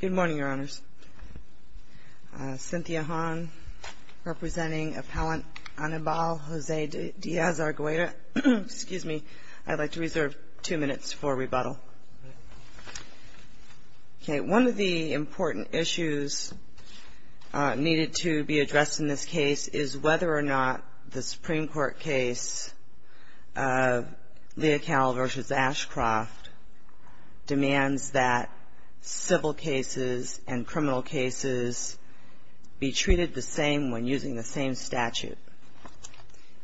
Good morning, Your Honors. Cynthia Hahn, representing Appellant Anibal Jose Diaz-Argueta. Excuse me. I'd like to reserve two minutes for rebuttal. One of the important issues needed to be addressed in this case is whether or not the Supreme Court case of Leocal v. Ashcroft demands that civil cases and criminal cases be treated the same when using the same statute.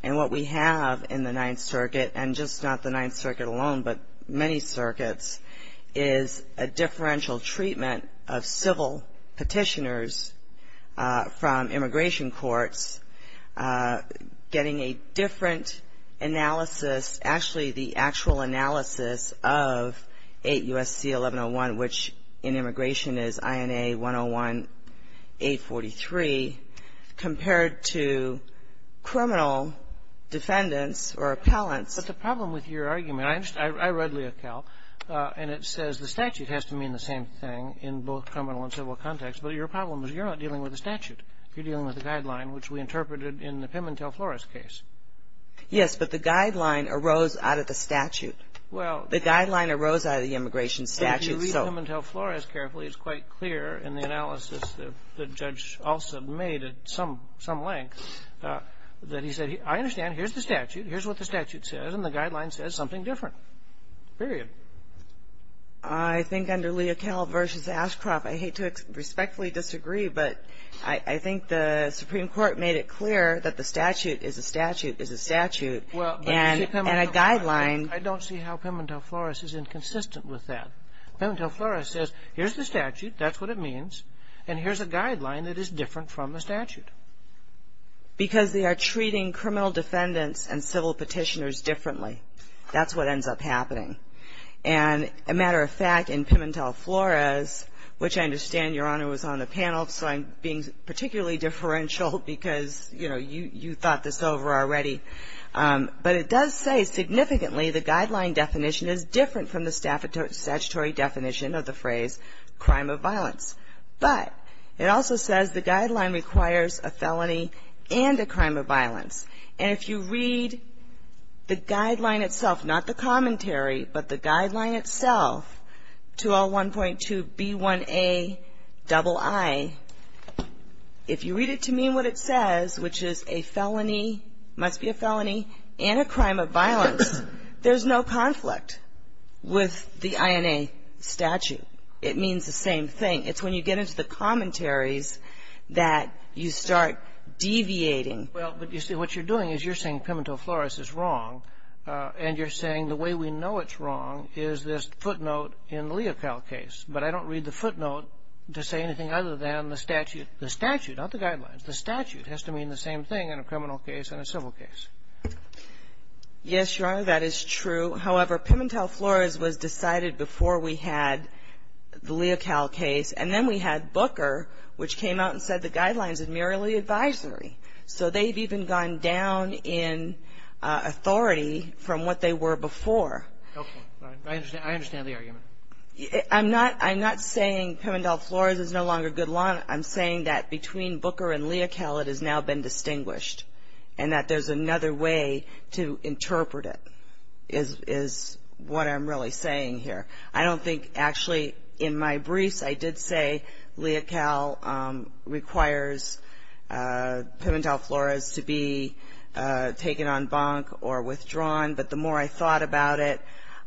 And what we have in the Ninth Circuit, and just not the Ninth Circuit alone, but many circuits, is a differential treatment of civil Petitioners from immigration courts, getting a different analysis, actually the actual analysis of 8 U.S.C. 1101, which in immigration is INA 101-843, compared to criminal defendants or appellants. But the problem with your argument, I read Leocal, and it says the statute has to mean the same thing in both criminal and civil contexts, but your problem is you're not dealing with a statute. You're dealing with a guideline, which we interpreted in the Pimintel-Flores case. Yes, but the guideline arose out of the statute. Well — The guideline arose out of the immigration statute, so — If you read Pimintel-Flores carefully, it's quite clear in the analysis that Judge Olson made at some length that he said, I understand. Here's the statute. Here's what the statute says, and the guideline says something different, period. I think under Leocal v. Ashcroft, I hate to respectfully disagree, but I think the Supreme Court made it clear that the statute is a statute is a statute, and a guideline — Well, but you see, Pimintel-Flores, I don't see how Pimintel-Flores is inconsistent with that. Pimintel-Flores says, here's the statute, that's what it means, and here's a guideline that is different from the statute. Because they are treating criminal defendants and civil petitioners differently. That's what ends up happening. And a matter of fact, in Pimintel-Flores, which I understand, Your Honor, was on the panel, so I'm being particularly differential because, you know, you thought this over already, but it does say significantly the guideline definition is different from the statutory definition of the phrase, crime of violence. But it also says the guideline requires a felony and a crime of violence. And if you read the guideline itself, not the commentary, but the guideline itself, 201.2b1aii, if you read it to me, what it says, which is a felony, must be a felony, and a crime of violence, there's no conflict with the INA statute. It means the same thing. It's when you get into the commentaries that you start deviating. Well, but you see, what you're doing is you're saying Pimintel-Flores is wrong, and you're saying the way we know it's wrong is this footnote in the Leocal case. But I don't read the footnote to say anything other than the statute. The statute, not the guidelines. The statute has to mean the same thing in a criminal case and a civil case. Yes, Your Honor, that is true. However, Pimintel-Flores was decided before we had the Leocal case. And then we had Booker, which came out and said the guidelines are merely advisory. So they've even gone down in authority from what they were before. Okay. I understand the argument. I'm not saying Pimintel-Flores is no longer good law. I'm saying that between Booker and Leocal, it has now been distinguished and that there's another way to interpret it is what I'm really saying here. I don't think actually in my briefs I did say Leocal requires Pimintel-Flores to be taken on bunk or withdrawn. But the more I thought about it,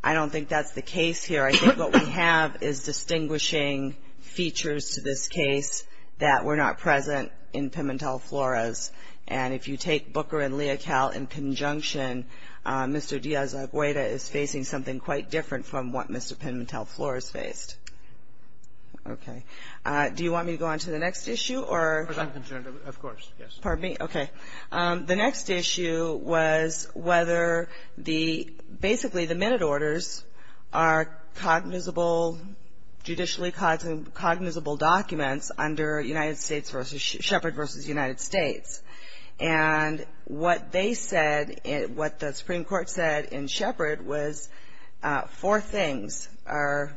I don't think that's the case here. I think what we have is distinguishing features to this case that were not present in Pimintel-Flores. And if you take Booker and Leocal in conjunction, Mr. Díaz-Agueda is facing something quite different from what Mr. Pimintel-Flores faced. Okay. Do you want me to go on to the next issue or? Because I'm concerned, of course, yes. Pardon me? Okay. The next issue was whether the basically the minute orders are cognizable, judicially cognizable documents under United States versus Shepard versus United States. And what they said, what the Supreme Court said in Shepard was four things are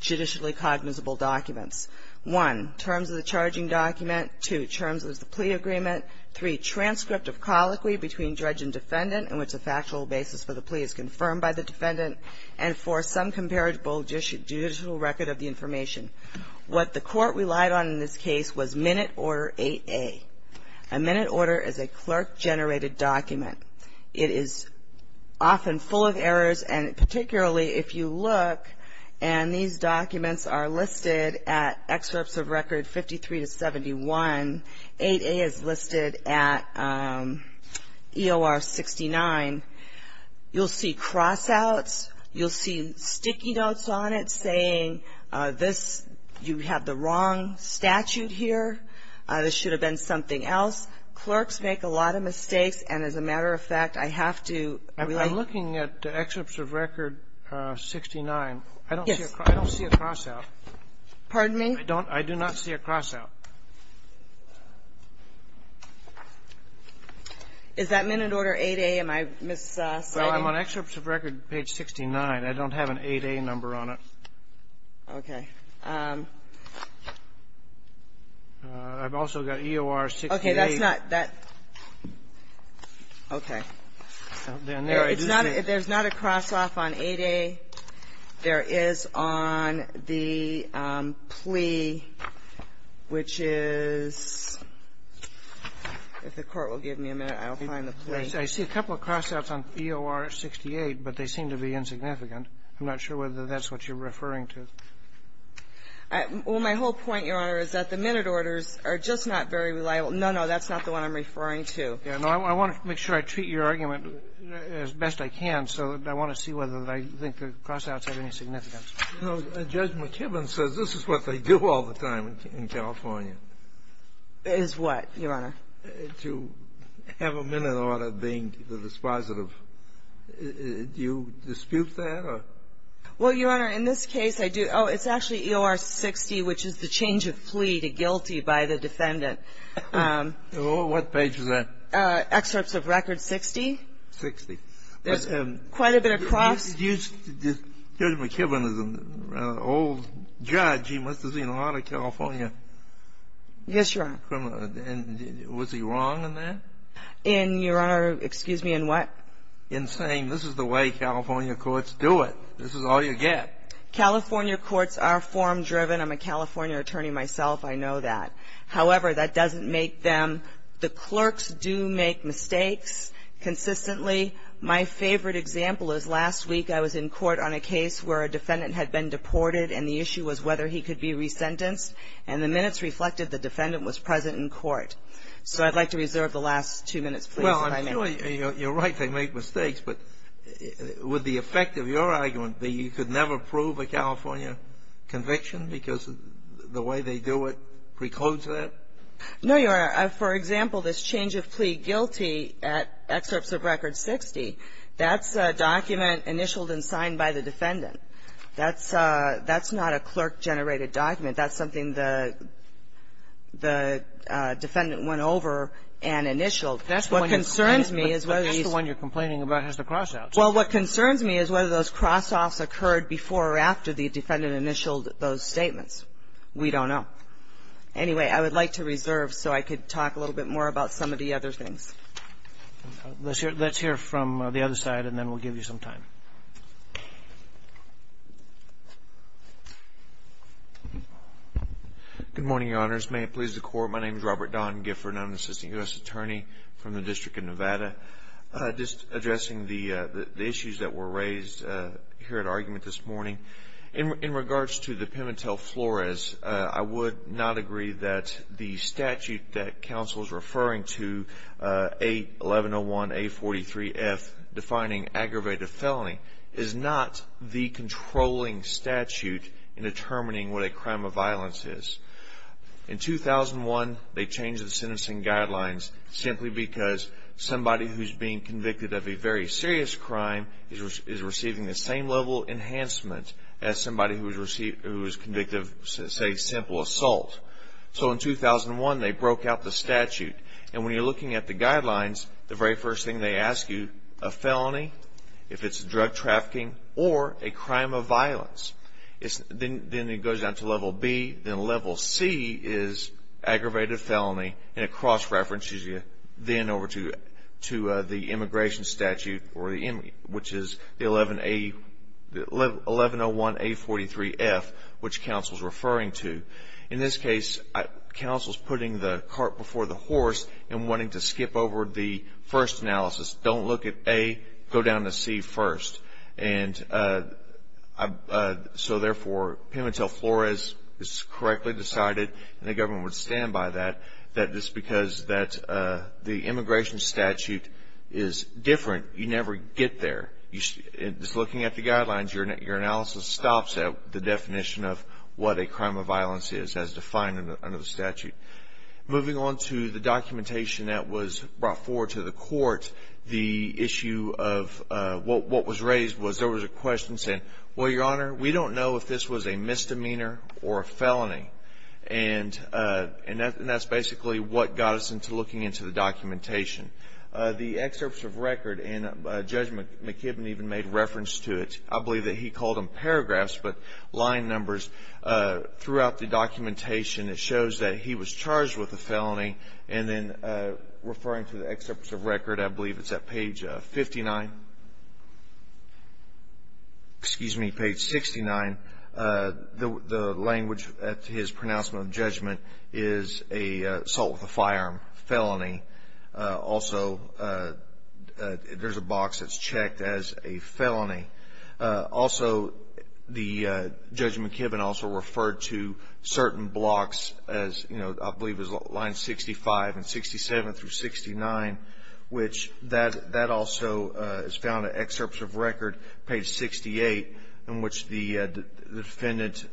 judicially cognizable documents. One, terms of the charging document. Two, terms of the plea agreement. Three, transcript of colloquy between judge and defendant in which the factual basis for the plea is confirmed by the defendant. And four, some comparable judicial record of the information. What the court relied on in this case was minute order 8A. A minute order is a clerk-generated document. It is often full of errors, and particularly if you look, and these documents are listed at excerpts of record 53 to 71. 8A is listed at EOR 69. You'll see cross-outs. You'll see sticky notes on it saying this, you have the wrong statute here. This should have been something else. Clerks make a lot of mistakes. And as a matter of fact, I have to relate to that. I'm looking at excerpts of record 69. Yes. I don't see a cross-out. Pardon me? I do not see a cross-out. Is that minute order 8A? Am I misciting? Well, I'm on excerpts of record page 69. I don't have an 8A number on it. Okay. I've also got EOR 68. Okay. That's not that. Okay. There's not a cross-off on 8A. There is on the plea, which is, if the Court will give me a minute, I'll find the plea. I see a couple of cross-outs on EOR 68, but they seem to be insignificant. I'm not sure whether that's what you're referring to. Well, my whole point, Your Honor, is that the minute orders are just not very reliable. No, no, that's not the one I'm referring to. No, I want to make sure I treat your argument as best I can, so I want to see whether I think the cross-outs have any significance. No, Judge McKibben says this is what they do all the time in California. Is what, Your Honor? To have a minute order being the dispositive. Do you dispute that or? Well, Your Honor, in this case, I do. Oh, it's actually EOR 60, which is the change of plea to guilty by the defendant. What page is that? Excerpts of Record 60. Sixty. There's quite a bit of cross. Judge McKibben is an old judge. He must have seen a lot of California. Yes, Your Honor. And was he wrong in that? In, Your Honor, excuse me, in what? In saying this is the way California courts do it. This is all you get. California courts are form-driven. I'm a California attorney myself. I know that. However, that doesn't make them. The clerks do make mistakes consistently. My favorite example is last week I was in court on a case where a defendant had been deported, and the issue was whether he could be resentenced. And the minutes reflected the defendant was present in court. So I'd like to reserve the last two minutes, please, if I may. Well, I'm sure you're right. They make mistakes. But would the effect of your argument be you could never prove a California conviction because the way they do it precludes that? No, Your Honor. For example, this change of plea guilty at excerpts of Record 60, that's a document initialed and signed by the defendant. That's not a clerk-generated document. That's something the defendant went over and initialed. That's the one you're complaining about, is the cross-outs. Well, what concerns me is whether those cross-offs occurred before or after the defendant initialed those statements. We don't know. Anyway, I would like to reserve so I could talk a little bit more about some of the other things. Let's hear from the other side, and then we'll give you some time. Good morning, Your Honors. May it please the Court. My name is Robert Don Gifford, and I'm an assistant U.S. attorney from the District of Nevada. Just addressing the issues that were raised here at argument this morning. In regards to the Pimentel-Flores, I would not agree that the statute that counsel is referring to, A1101A43F, defining aggravated felony, is not the controlling statute in determining what a crime of violence is. In 2001, they changed the sentencing guidelines simply because somebody who's being convicted of a very serious crime is receiving the same level of enhancement as somebody who is convicted of, say, simple assault. So in 2001, they broke out the statute. And when you're looking at the guidelines, the very first thing they ask you, a felony, if it's drug trafficking, or a crime of violence, then it goes down to level B. Then level C is aggravated felony, and it cross-references you then over to the immigration statute, which is the 1101A43F, which counsel's referring to. In this case, counsel's putting the cart before the horse and wanting to skip over the first analysis. Don't look at A, go down to C first. And so therefore, Pimentel-Flores is correctly decided, and the government would stand by that, that just because the immigration statute is different, you never get there. Just looking at the guidelines, your analysis stops at the definition of what a crime of violence is, as defined under the statute. Moving on to the documentation that was brought forward to the court, the issue of what was raised was there was a question saying, well, Your Honor, we don't know if this was a misdemeanor or a felony. And that's basically what got us into looking into the documentation. The excerpts of record, and Judge McKibben even made reference to it. I believe that he called them paragraphs, but line numbers. Throughout the documentation, it shows that he was charged with a felony, and then referring to the excerpts of record, I believe it's at page 59. Excuse me, page 69. The language at his pronouncement of judgment is an assault with a firearm felony. Also, there's a box that's checked as a felony. Also, Judge McKibben also referred to certain blocks, as I believe it was line 65 and 67 through 69, which that also is found in excerpts of record, page 68, in which the defendant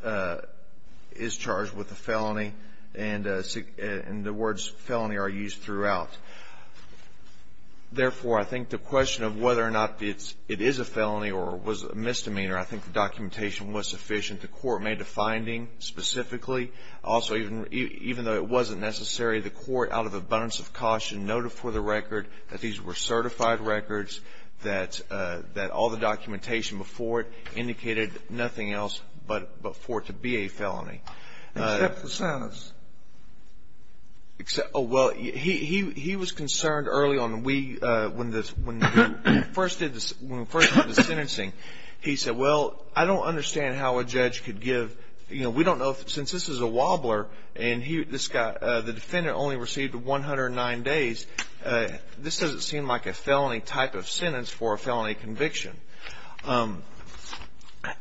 is charged with a felony, and the words felony are used throughout. Therefore, I think the question of whether or not it is a felony or was a misdemeanor, I think the documentation was sufficient. The court made a finding specifically. Also, even though it wasn't necessary, the court, out of abundance of caution, noted for the record that these were certified records, that all the documentation before it indicated nothing else but for it to be a felony. Except for sentence. Oh, well, he was concerned early on. When we first did the sentencing, he said, well, I don't understand how a judge could give, you know, we don't know since this is a wobbler and the defendant only received 109 days, this doesn't seem like a felony type of sentence for a felony conviction.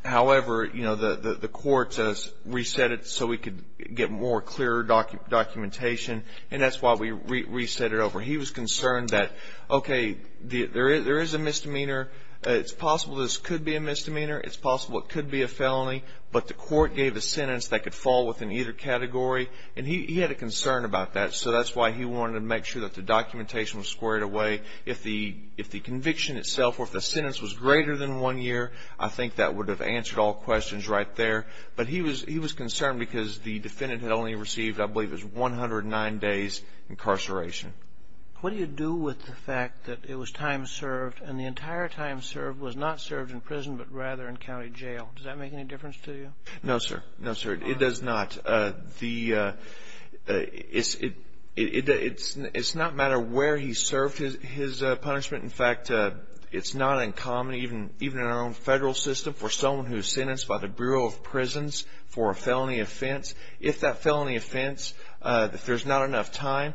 However, you know, the court said reset it so we could get more clear documentation, and that's why we reset it over. He was concerned that, okay, there is a misdemeanor. It's possible this could be a misdemeanor. It's possible it could be a felony, but the court gave a sentence that could fall within either category, and he had a concern about that, so that's why he wanted to make sure that the documentation was squared away. If the conviction itself or if the sentence was greater than one year, I think that would have answered all questions right there, but he was concerned because the defendant had only received, I believe it was 109 days incarceration. What do you do with the fact that it was time served and the entire time served was not served in prison but rather in county jail? Does that make any difference to you? No, sir. No, sir, it does not. It's not a matter of where he served his punishment. In fact, it's not uncommon, even in our own federal system, for someone who is sentenced by the Bureau of Prisons for a felony offense, if that felony offense, if there's not enough time,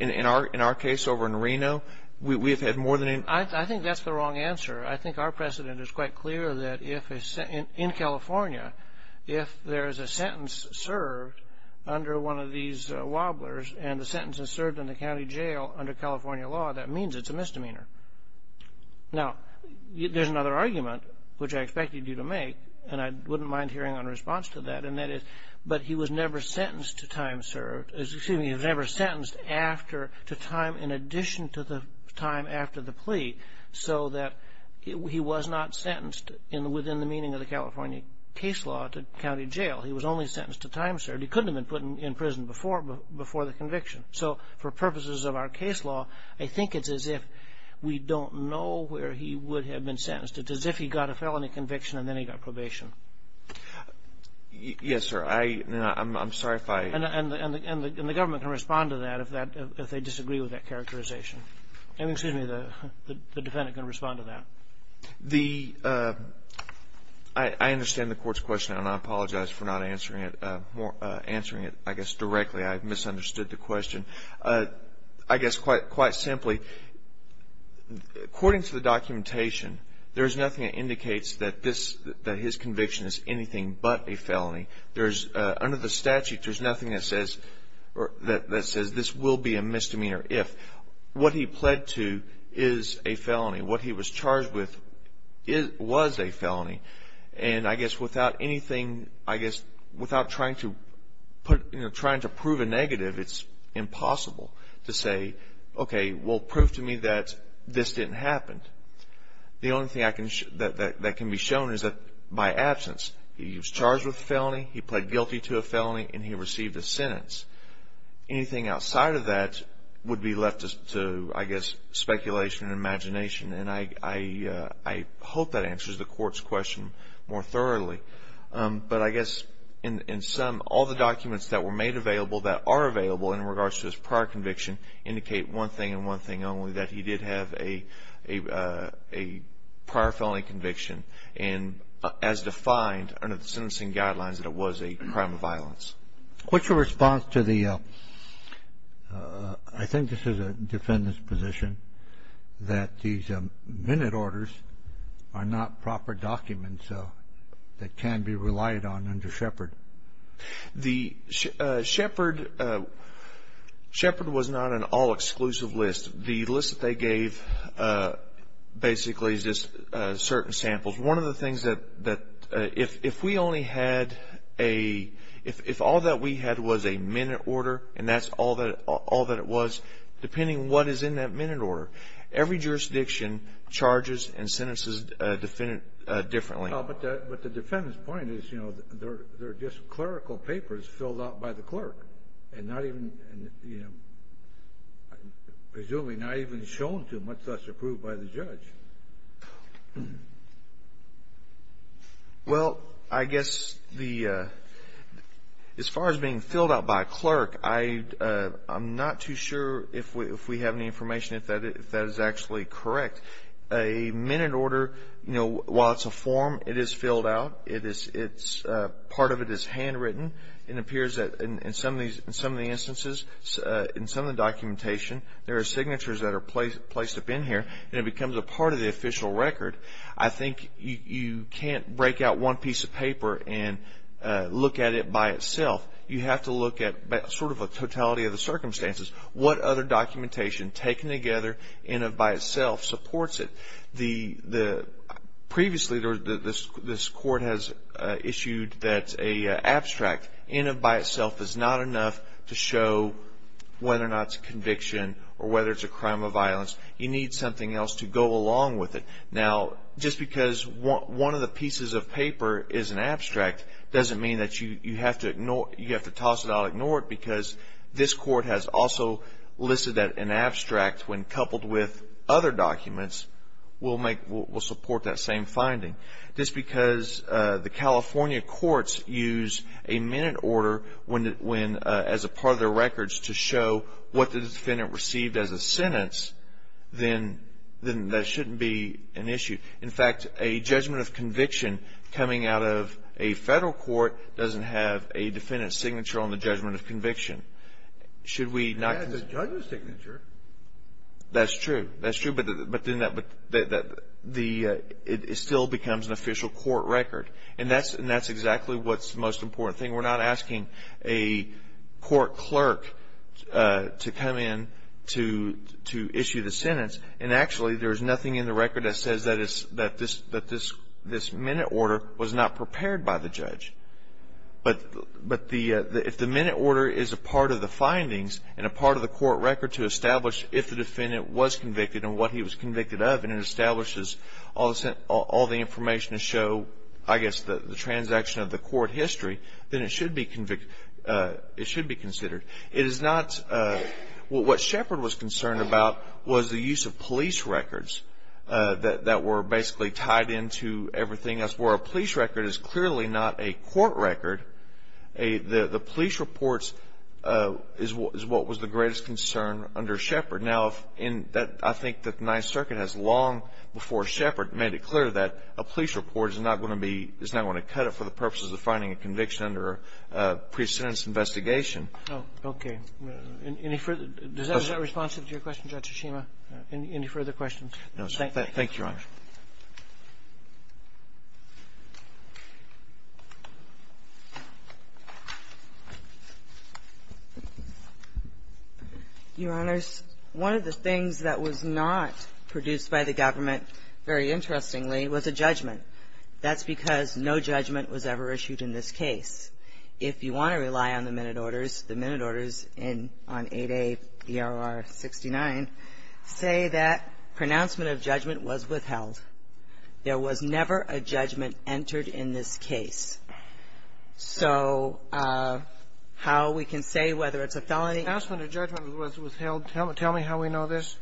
in our case over in Reno, we have had more than enough. I think that's the wrong answer. I think our precedent is quite clear that in California, if there is a sentence served under one of these wobblers and the sentence is served in the county jail under California law, that means it's a misdemeanor. Now, there's another argument, which I expected you to make, and I wouldn't mind hearing a response to that, and that is but he was never sentenced to time served, excuse me, he was never sentenced to time in addition to the time after the plea so that he was not sentenced within the meaning of the California case law to county jail. He was only sentenced to time served. He couldn't have been put in prison before the conviction. So for purposes of our case law, I think it's as if we don't know where he would have been sentenced. It's as if he got a felony conviction and then he got probation. Yes, sir. I'm sorry if I – And the government can respond to that if they disagree with that characterization. Excuse me, the defendant can respond to that. I understand the court's question, and I apologize for not answering it, answering it, I guess, directly. I misunderstood the question. I guess quite simply, according to the documentation, there is nothing that indicates that his conviction is anything but a felony. Under the statute, there's nothing that says this will be a misdemeanor if. What he pled to is a felony. What he was charged with was a felony. And I guess without anything, I guess without trying to prove a negative, it's impossible to say, okay, well, prove to me that this didn't happen. The only thing that can be shown is that by absence, he was charged with a felony, he pled guilty to a felony, and he received a sentence. Anything outside of that would be left to, I guess, speculation and imagination. And I hope that answers the court's question more thoroughly. But I guess in sum, all the documents that were made available, that are available in regards to his prior conviction, indicate one thing and one thing only, that he did have a prior felony conviction. And as defined under the sentencing guidelines, that it was a crime of violence. What's your response to the, I think this is a defendant's position, that these minute orders are not proper documents that can be relied on under Shepard? The Shepard was not an all-exclusive list. The list that they gave basically is just certain samples. One of the things that, if we only had a, if all that we had was a minute order, and that's all that it was, depending on what is in that minute order, every jurisdiction charges and sentences a defendant differently. But the defendant's point is, you know, they're just clerical papers filled out by the clerk, and not even, you know, Well, I guess the, as far as being filled out by a clerk, I'm not too sure if we have any information if that is actually correct. A minute order, you know, while it's a form, it is filled out. Part of it is handwritten. It appears that in some of the instances, in some of the documentation, there are signatures that are placed up in here, and it becomes a part of the official record. I think you can't break out one piece of paper and look at it by itself. You have to look at sort of a totality of the circumstances. What other documentation, taken together in and by itself, supports it? Previously, this court has issued that an abstract, in and by itself, is not enough to show whether or not it's a conviction or whether it's a crime of violence. You need something else to go along with it. Now, just because one of the pieces of paper is an abstract, doesn't mean that you have to toss it out and ignore it, because this court has also listed that an abstract, when coupled with other documents, will support that same finding. Just because the California courts use a minute order as a part of their records to show what the defendant received as a sentence, then that shouldn't be an issue. In fact, a judgment of conviction coming out of a federal court doesn't have a defendant's signature on the judgment of conviction. Should we not? It has a judge's signature. That's true. That's true, but it still becomes an official court record, and that's exactly what's the most important thing. We're not asking a court clerk to come in to issue the sentence, and actually there's nothing in the record that says that this minute order was not prepared by the judge. But if the minute order is a part of the findings and a part of the court record to establish if the defendant was convicted and what he was convicted of, and it establishes all the information to show, I guess, the transaction of the court history, then it should be considered. What Shepard was concerned about was the use of police records that were basically tied into everything else, where a police record is clearly not a court record. The police report is what was the greatest concern under Shepard. Now, I think the Ninth Circuit has long before Shepard made it clear that a police report is not going to be – is not going to cut it for the purposes of finding a conviction or a pre-sentence investigation. Oh, okay. Any further – is that responsive to your question, Judge Tsushima? Any further questions? No, sir. Thank you, Your Honor. Your Honors, one of the things that was not produced by the government, very interestingly, was a judgment. That's because no judgment was ever issued in this case. If you want to rely on the minute orders, the minute orders in – on 8A ERR 69 say that pronouncement of judgment was withheld. There was never a judgment entered in this case. So how we can say whether it's a felony? If pronouncement of judgment was withheld, tell me how we know this.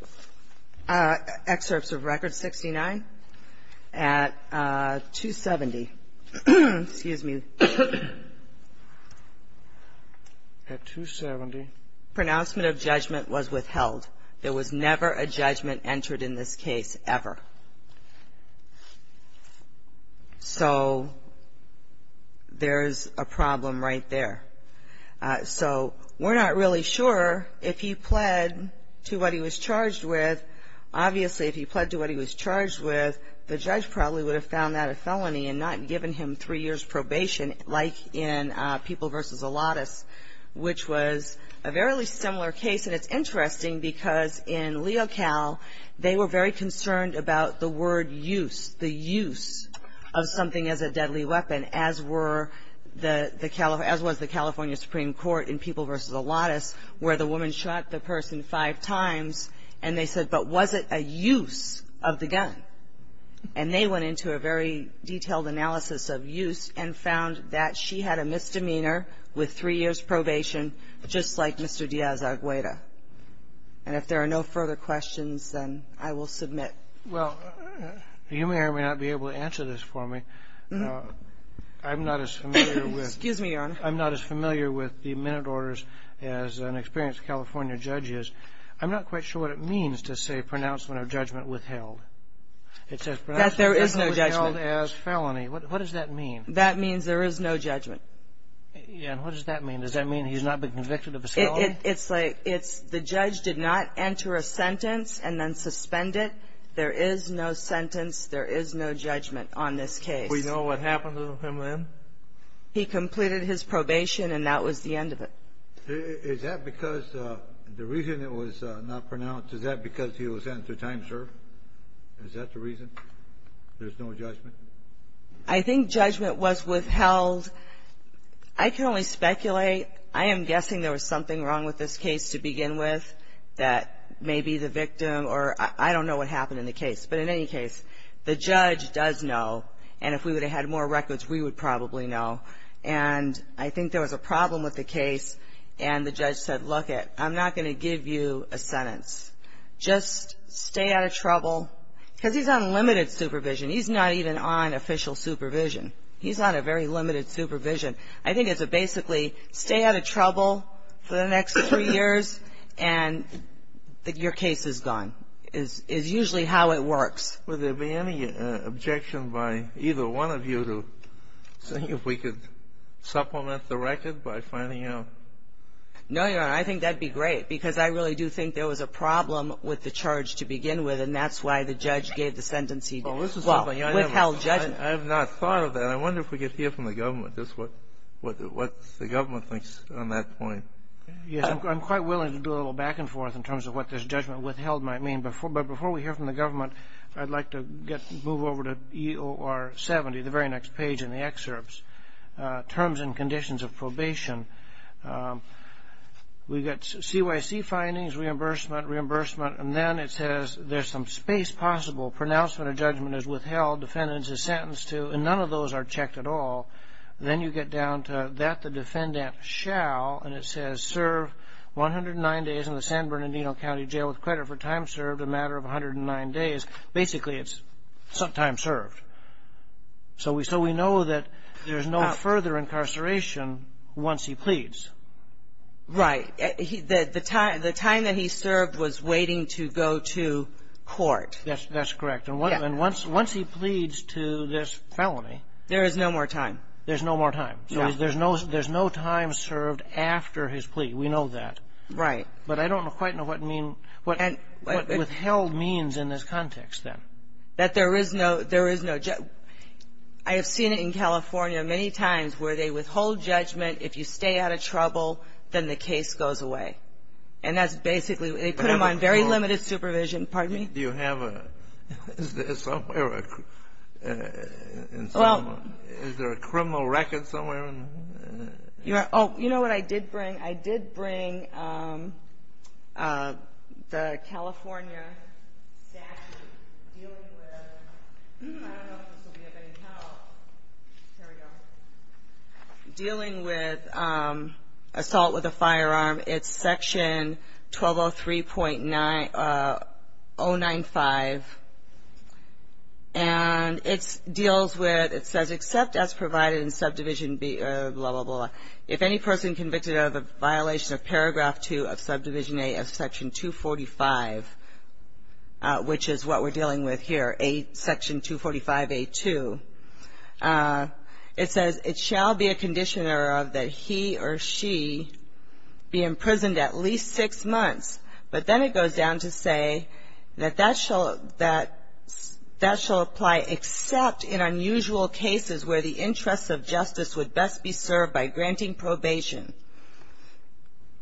Excerpts of Record 69. At 270 – excuse me. At 270. Pronouncement of judgment was withheld. There was never a judgment entered in this case, ever. So there's a problem right there. So we're not really sure if he pled to what he was charged with. Obviously, if he pled to what he was charged with, the judge probably would have found that a felony and not given him three years probation, like in People v. Allotus, which was a very similar case. And it's interesting because in LeoCal, they were very concerned about the word use, the use of something as a deadly weapon, as were the – as was the California Supreme Court in People v. Allotus, where the woman shot the person five times, and they said, but was it a use of the gun? And they went into a very detailed analysis of use and found that she had a misdemeanor with three years probation, just like Mr. Diaz-Agueda. And if there are no further questions, then I will submit. Well, you may or may not be able to answer this for me. I'm not as familiar with – Excuse me, Your Honor. I'm not as familiar with the minute orders as an experienced California judge is. I'm not quite sure what it means to say pronouncement of judgment withheld. It says pronouncement of judgment withheld as felony. That there is no judgment. What does that mean? That means there is no judgment. And what does that mean? Does that mean he's not been convicted of assault? It's like it's the judge did not enter a sentence and then suspend it. There is no sentence. There is no judgment on this case. We know what happened to him then? He completed his probation, and that was the end of it. Is that because the reason it was not pronounced, is that because he was sentenced to time, sir? Is that the reason there's no judgment? I think judgment was withheld. I can only speculate. I am guessing there was something wrong with this case to begin with that may be the victim, or I don't know what happened in the case. But in any case, the judge does know, and if we would have had more records, we would probably know. And I think there was a problem with the case, and the judge said, look it, I'm not going to give you a sentence. Just stay out of trouble. Because he's on limited supervision. He's not even on official supervision. He's on a very limited supervision. I think it's a basically, stay out of trouble for the next three years, and your case is gone, is usually how it works. Would there be any objection by either one of you to see if we could supplement the record by finding out? No, Your Honor. I think that would be great, because I really do think there was a problem with the charge to begin with, and that's why the judge gave the sentence he did. Well, this is something I never. Well, withheld judgment. I have not thought of that. I wonder if we could hear from the government just what the government thinks on that point. Yes, I'm quite willing to do a little back and forth in terms of what this judgment withheld might mean. But before we hear from the government, I'd like to move over to EOR 70, the very next page in the excerpts, Terms and Conditions of Probation. We've got CYC findings, reimbursement, reimbursement, and then it says there's some space possible. Pronouncement of judgment is withheld. Defendant is sentenced to, and none of those are checked at all. Then you get down to that the defendant shall, and it says, serve 109 days in the San Bernardino County Jail with credit for time served, a matter of 109 days. Basically, it's time served. So we know that there's no further incarceration once he pleads. The time that he served was waiting to go to court. That's correct. And once he pleads to this felony — There is no more time. There's no more time. So there's no time served after his plea. We know that. Right. But I don't quite know what means — what withheld means in this context, then. That there is no — I have seen it in California many times where they withhold judgment. If you stay out of trouble, then the case goes away. And that's basically — they put him on very limited supervision. Pardon me? Do you have a — is there a criminal record somewhere? Oh, you know what I did bring? I did bring the California statute dealing with — I don't know if this will be of any help. Here we go. Dealing with assault with a firearm, it's Section 1203.095. And it deals with — it says, except as provided in Subdivision B — blah, blah, blah. If any person convicted of a violation of Paragraph 2 of Subdivision A of Section 245, which is what we're dealing with here, Section 245A2, it says, it shall be a condition of that he or she be imprisoned at least six months. But then it goes down to say that that shall apply except in unusual cases where the interests of justice would best be served by granting probation.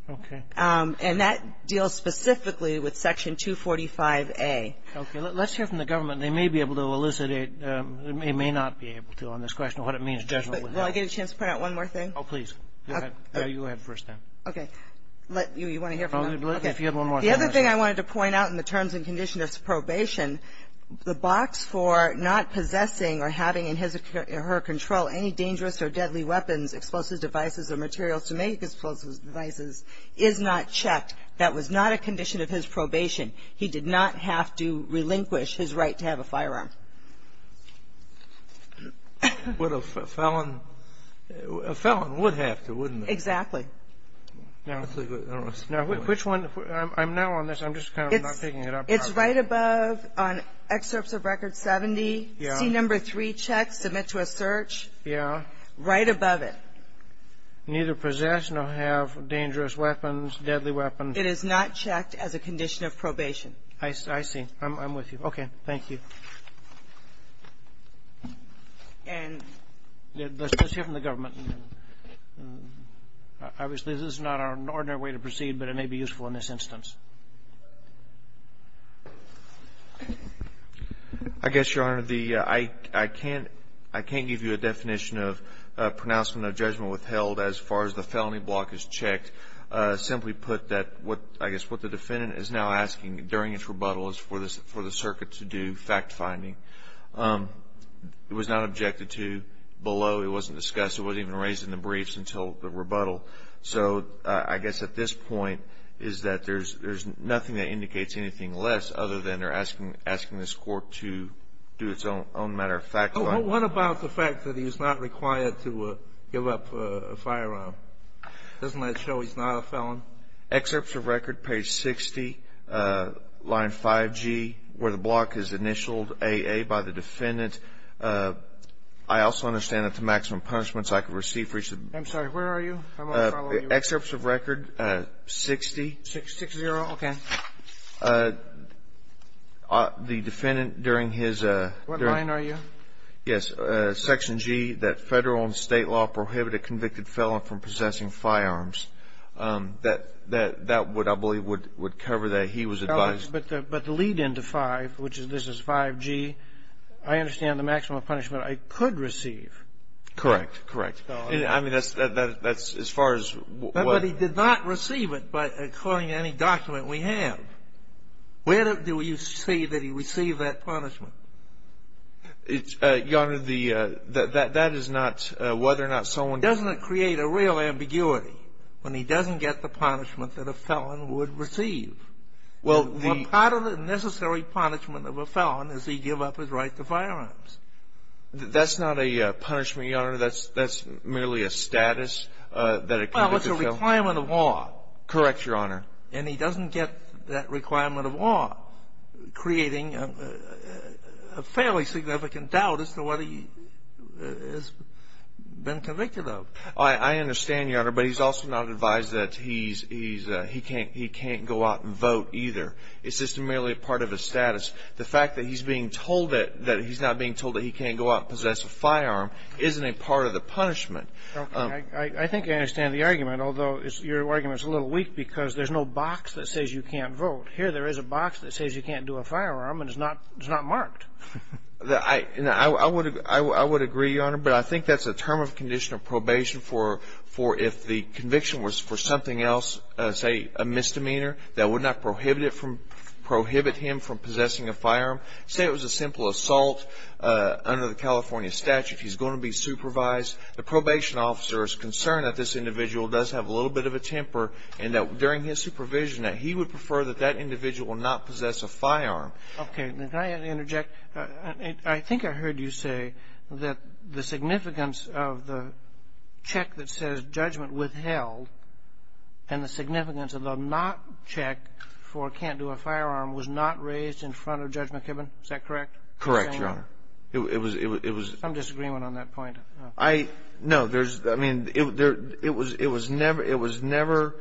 Okay. And that deals specifically with Section 245A. Okay. Let's hear from the government. They may be able to elucidate. They may not be able to on this question of what it means judgmentally. Will I get a chance to point out one more thing? Oh, please. Go ahead. You go ahead first, then. Okay. You want to hear from them? Okay. If you have one more thing. The other thing I wanted to point out in the terms and conditions of probation, the box for not possessing or having in his or her control any dangerous or deadly weapons, explosive devices, or materials to make explosive devices is not checked. That was not a condition of his probation. He did not have to relinquish his right to have a firearm. But a felon would have to, wouldn't they? Exactly. Now, which one? I'm now on this. I'm just kind of not picking it up. It's right above, on excerpts of Record 70, C-3 checks, submit to a search. Yeah. Right above it. Neither possess nor have dangerous weapons, deadly weapons. It is not checked as a condition of probation. I see. I'm with you. Okay. Thank you. And. Let's hear from the government. Obviously, this is not an ordinary way to proceed, but it may be useful in this instance. I guess, Your Honor, I can't give you a definition of pronouncement of judgment withheld as far as the felony block is checked. Simply put, I guess what the defendant is now asking during its rebuttal is for the circuit to do fact finding. It was not objected to below. It wasn't discussed. It wasn't even raised in the briefs until the rebuttal. So, I guess at this point is that there's nothing that indicates anything less other than they're asking this court to do its own matter of fact. What about the fact that he's not required to give up a firearm? Doesn't that show he's not a felon? Excerpts of Record, page 60, line 5G, where the block is initialed AA by the defendant. I also understand that the maximum punishments I could receive for each of the. I'm sorry, where are you? I'm going to follow you. Excerpts of Record, 60. 60, okay. The defendant during his. What line are you? Yes, Section G, that Federal and State law prohibit a convicted felon from possessing firearms. That would, I believe, would cover that he was advised. But the lead into 5, which this is 5G, I understand the maximum punishment I could receive. Correct, correct. I mean, that's as far as. But he did not receive it according to any document we have. Where do you see that he received that punishment? Your Honor, that is not whether or not someone. Doesn't it create a real ambiguity when he doesn't get the punishment that a felon would receive? Well, the. Part of the necessary punishment of a felon is he give up his right to firearms. That's not a punishment, Your Honor. That's merely a status that a convicted felon. Well, it's a requirement of law. Correct, Your Honor. And he doesn't get that requirement of law, creating a fairly significant doubt as to what he has been convicted of. I understand, Your Honor, but he's also not advised that he can't go out and vote either. It's just merely a part of his status. The fact that he's being told that he's not being told that he can't go out and possess a firearm isn't a part of the punishment. I think I understand the argument, although your argument is a little weak because there's no box that says you can't vote. Here there is a box that says you can't do a firearm and it's not marked. I would agree, Your Honor, but I think that's a term of condition of probation for if the conviction was for something else, say a misdemeanor, that would not prohibit him from possessing a firearm. Say it was a simple assault under the California statute, he's going to be supervised. The probation officer is concerned that this individual does have a little bit of a temper and that during his supervision that he would prefer that that individual not possess a firearm. Okay. Can I interject? I think I heard you say that the significance of the check that says judgment withheld and the significance of the not check for can't do a firearm was not raised in front of Judgment Kibben. Is that correct? Correct, Your Honor. Some disagreement on that point. No, I mean, it was never,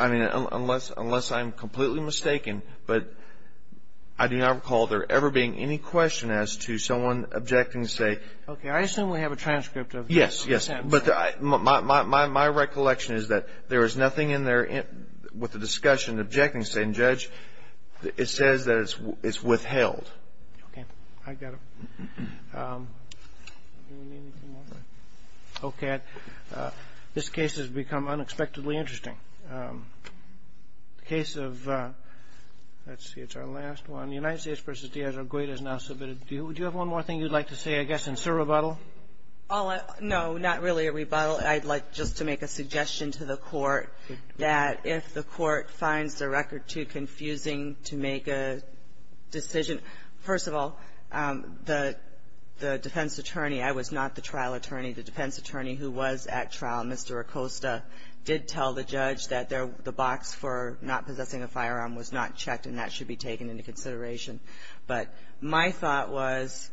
I mean, unless I'm completely mistaken, but I do not recall there ever being any question as to someone objecting to say. Okay. I assume we have a transcript of that. Yes, yes, but my recollection is that there is nothing in there with the discussion and objecting saying, Judge, it says that it's withheld. Okay. I got it. Okay. This case has become unexpectedly interesting. The case of, let's see, it's our last one. United States v. Diaz, our great is now submitted. Do you have one more thing you'd like to say, I guess, in sub rebuttal? No, not really a rebuttal. I'd like just to make a suggestion to the Court that if the Court finds the record too confusing to make a decision, first of all, the defense attorney, I was not the trial attorney. The defense attorney who was at trial, Mr. Acosta, did tell the judge that the box for not possessing a firearm was not checked, and that should be taken into consideration. But my thought was,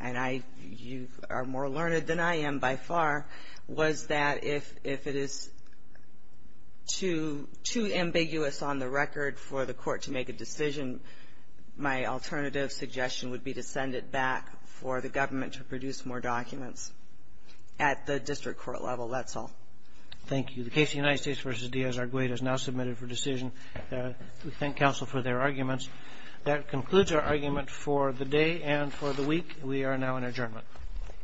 and you are more learned than I am by far, was that if it is too ambiguous on the record for the Court to make a decision, my alternative suggestion would be to send it back for the government to produce more documents at the district court level. That's all. Thank you. The case of United States v. Diaz, our great, is now submitted for decision. We thank counsel for their arguments. That concludes our argument for the day and for the week. We are now in adjournment.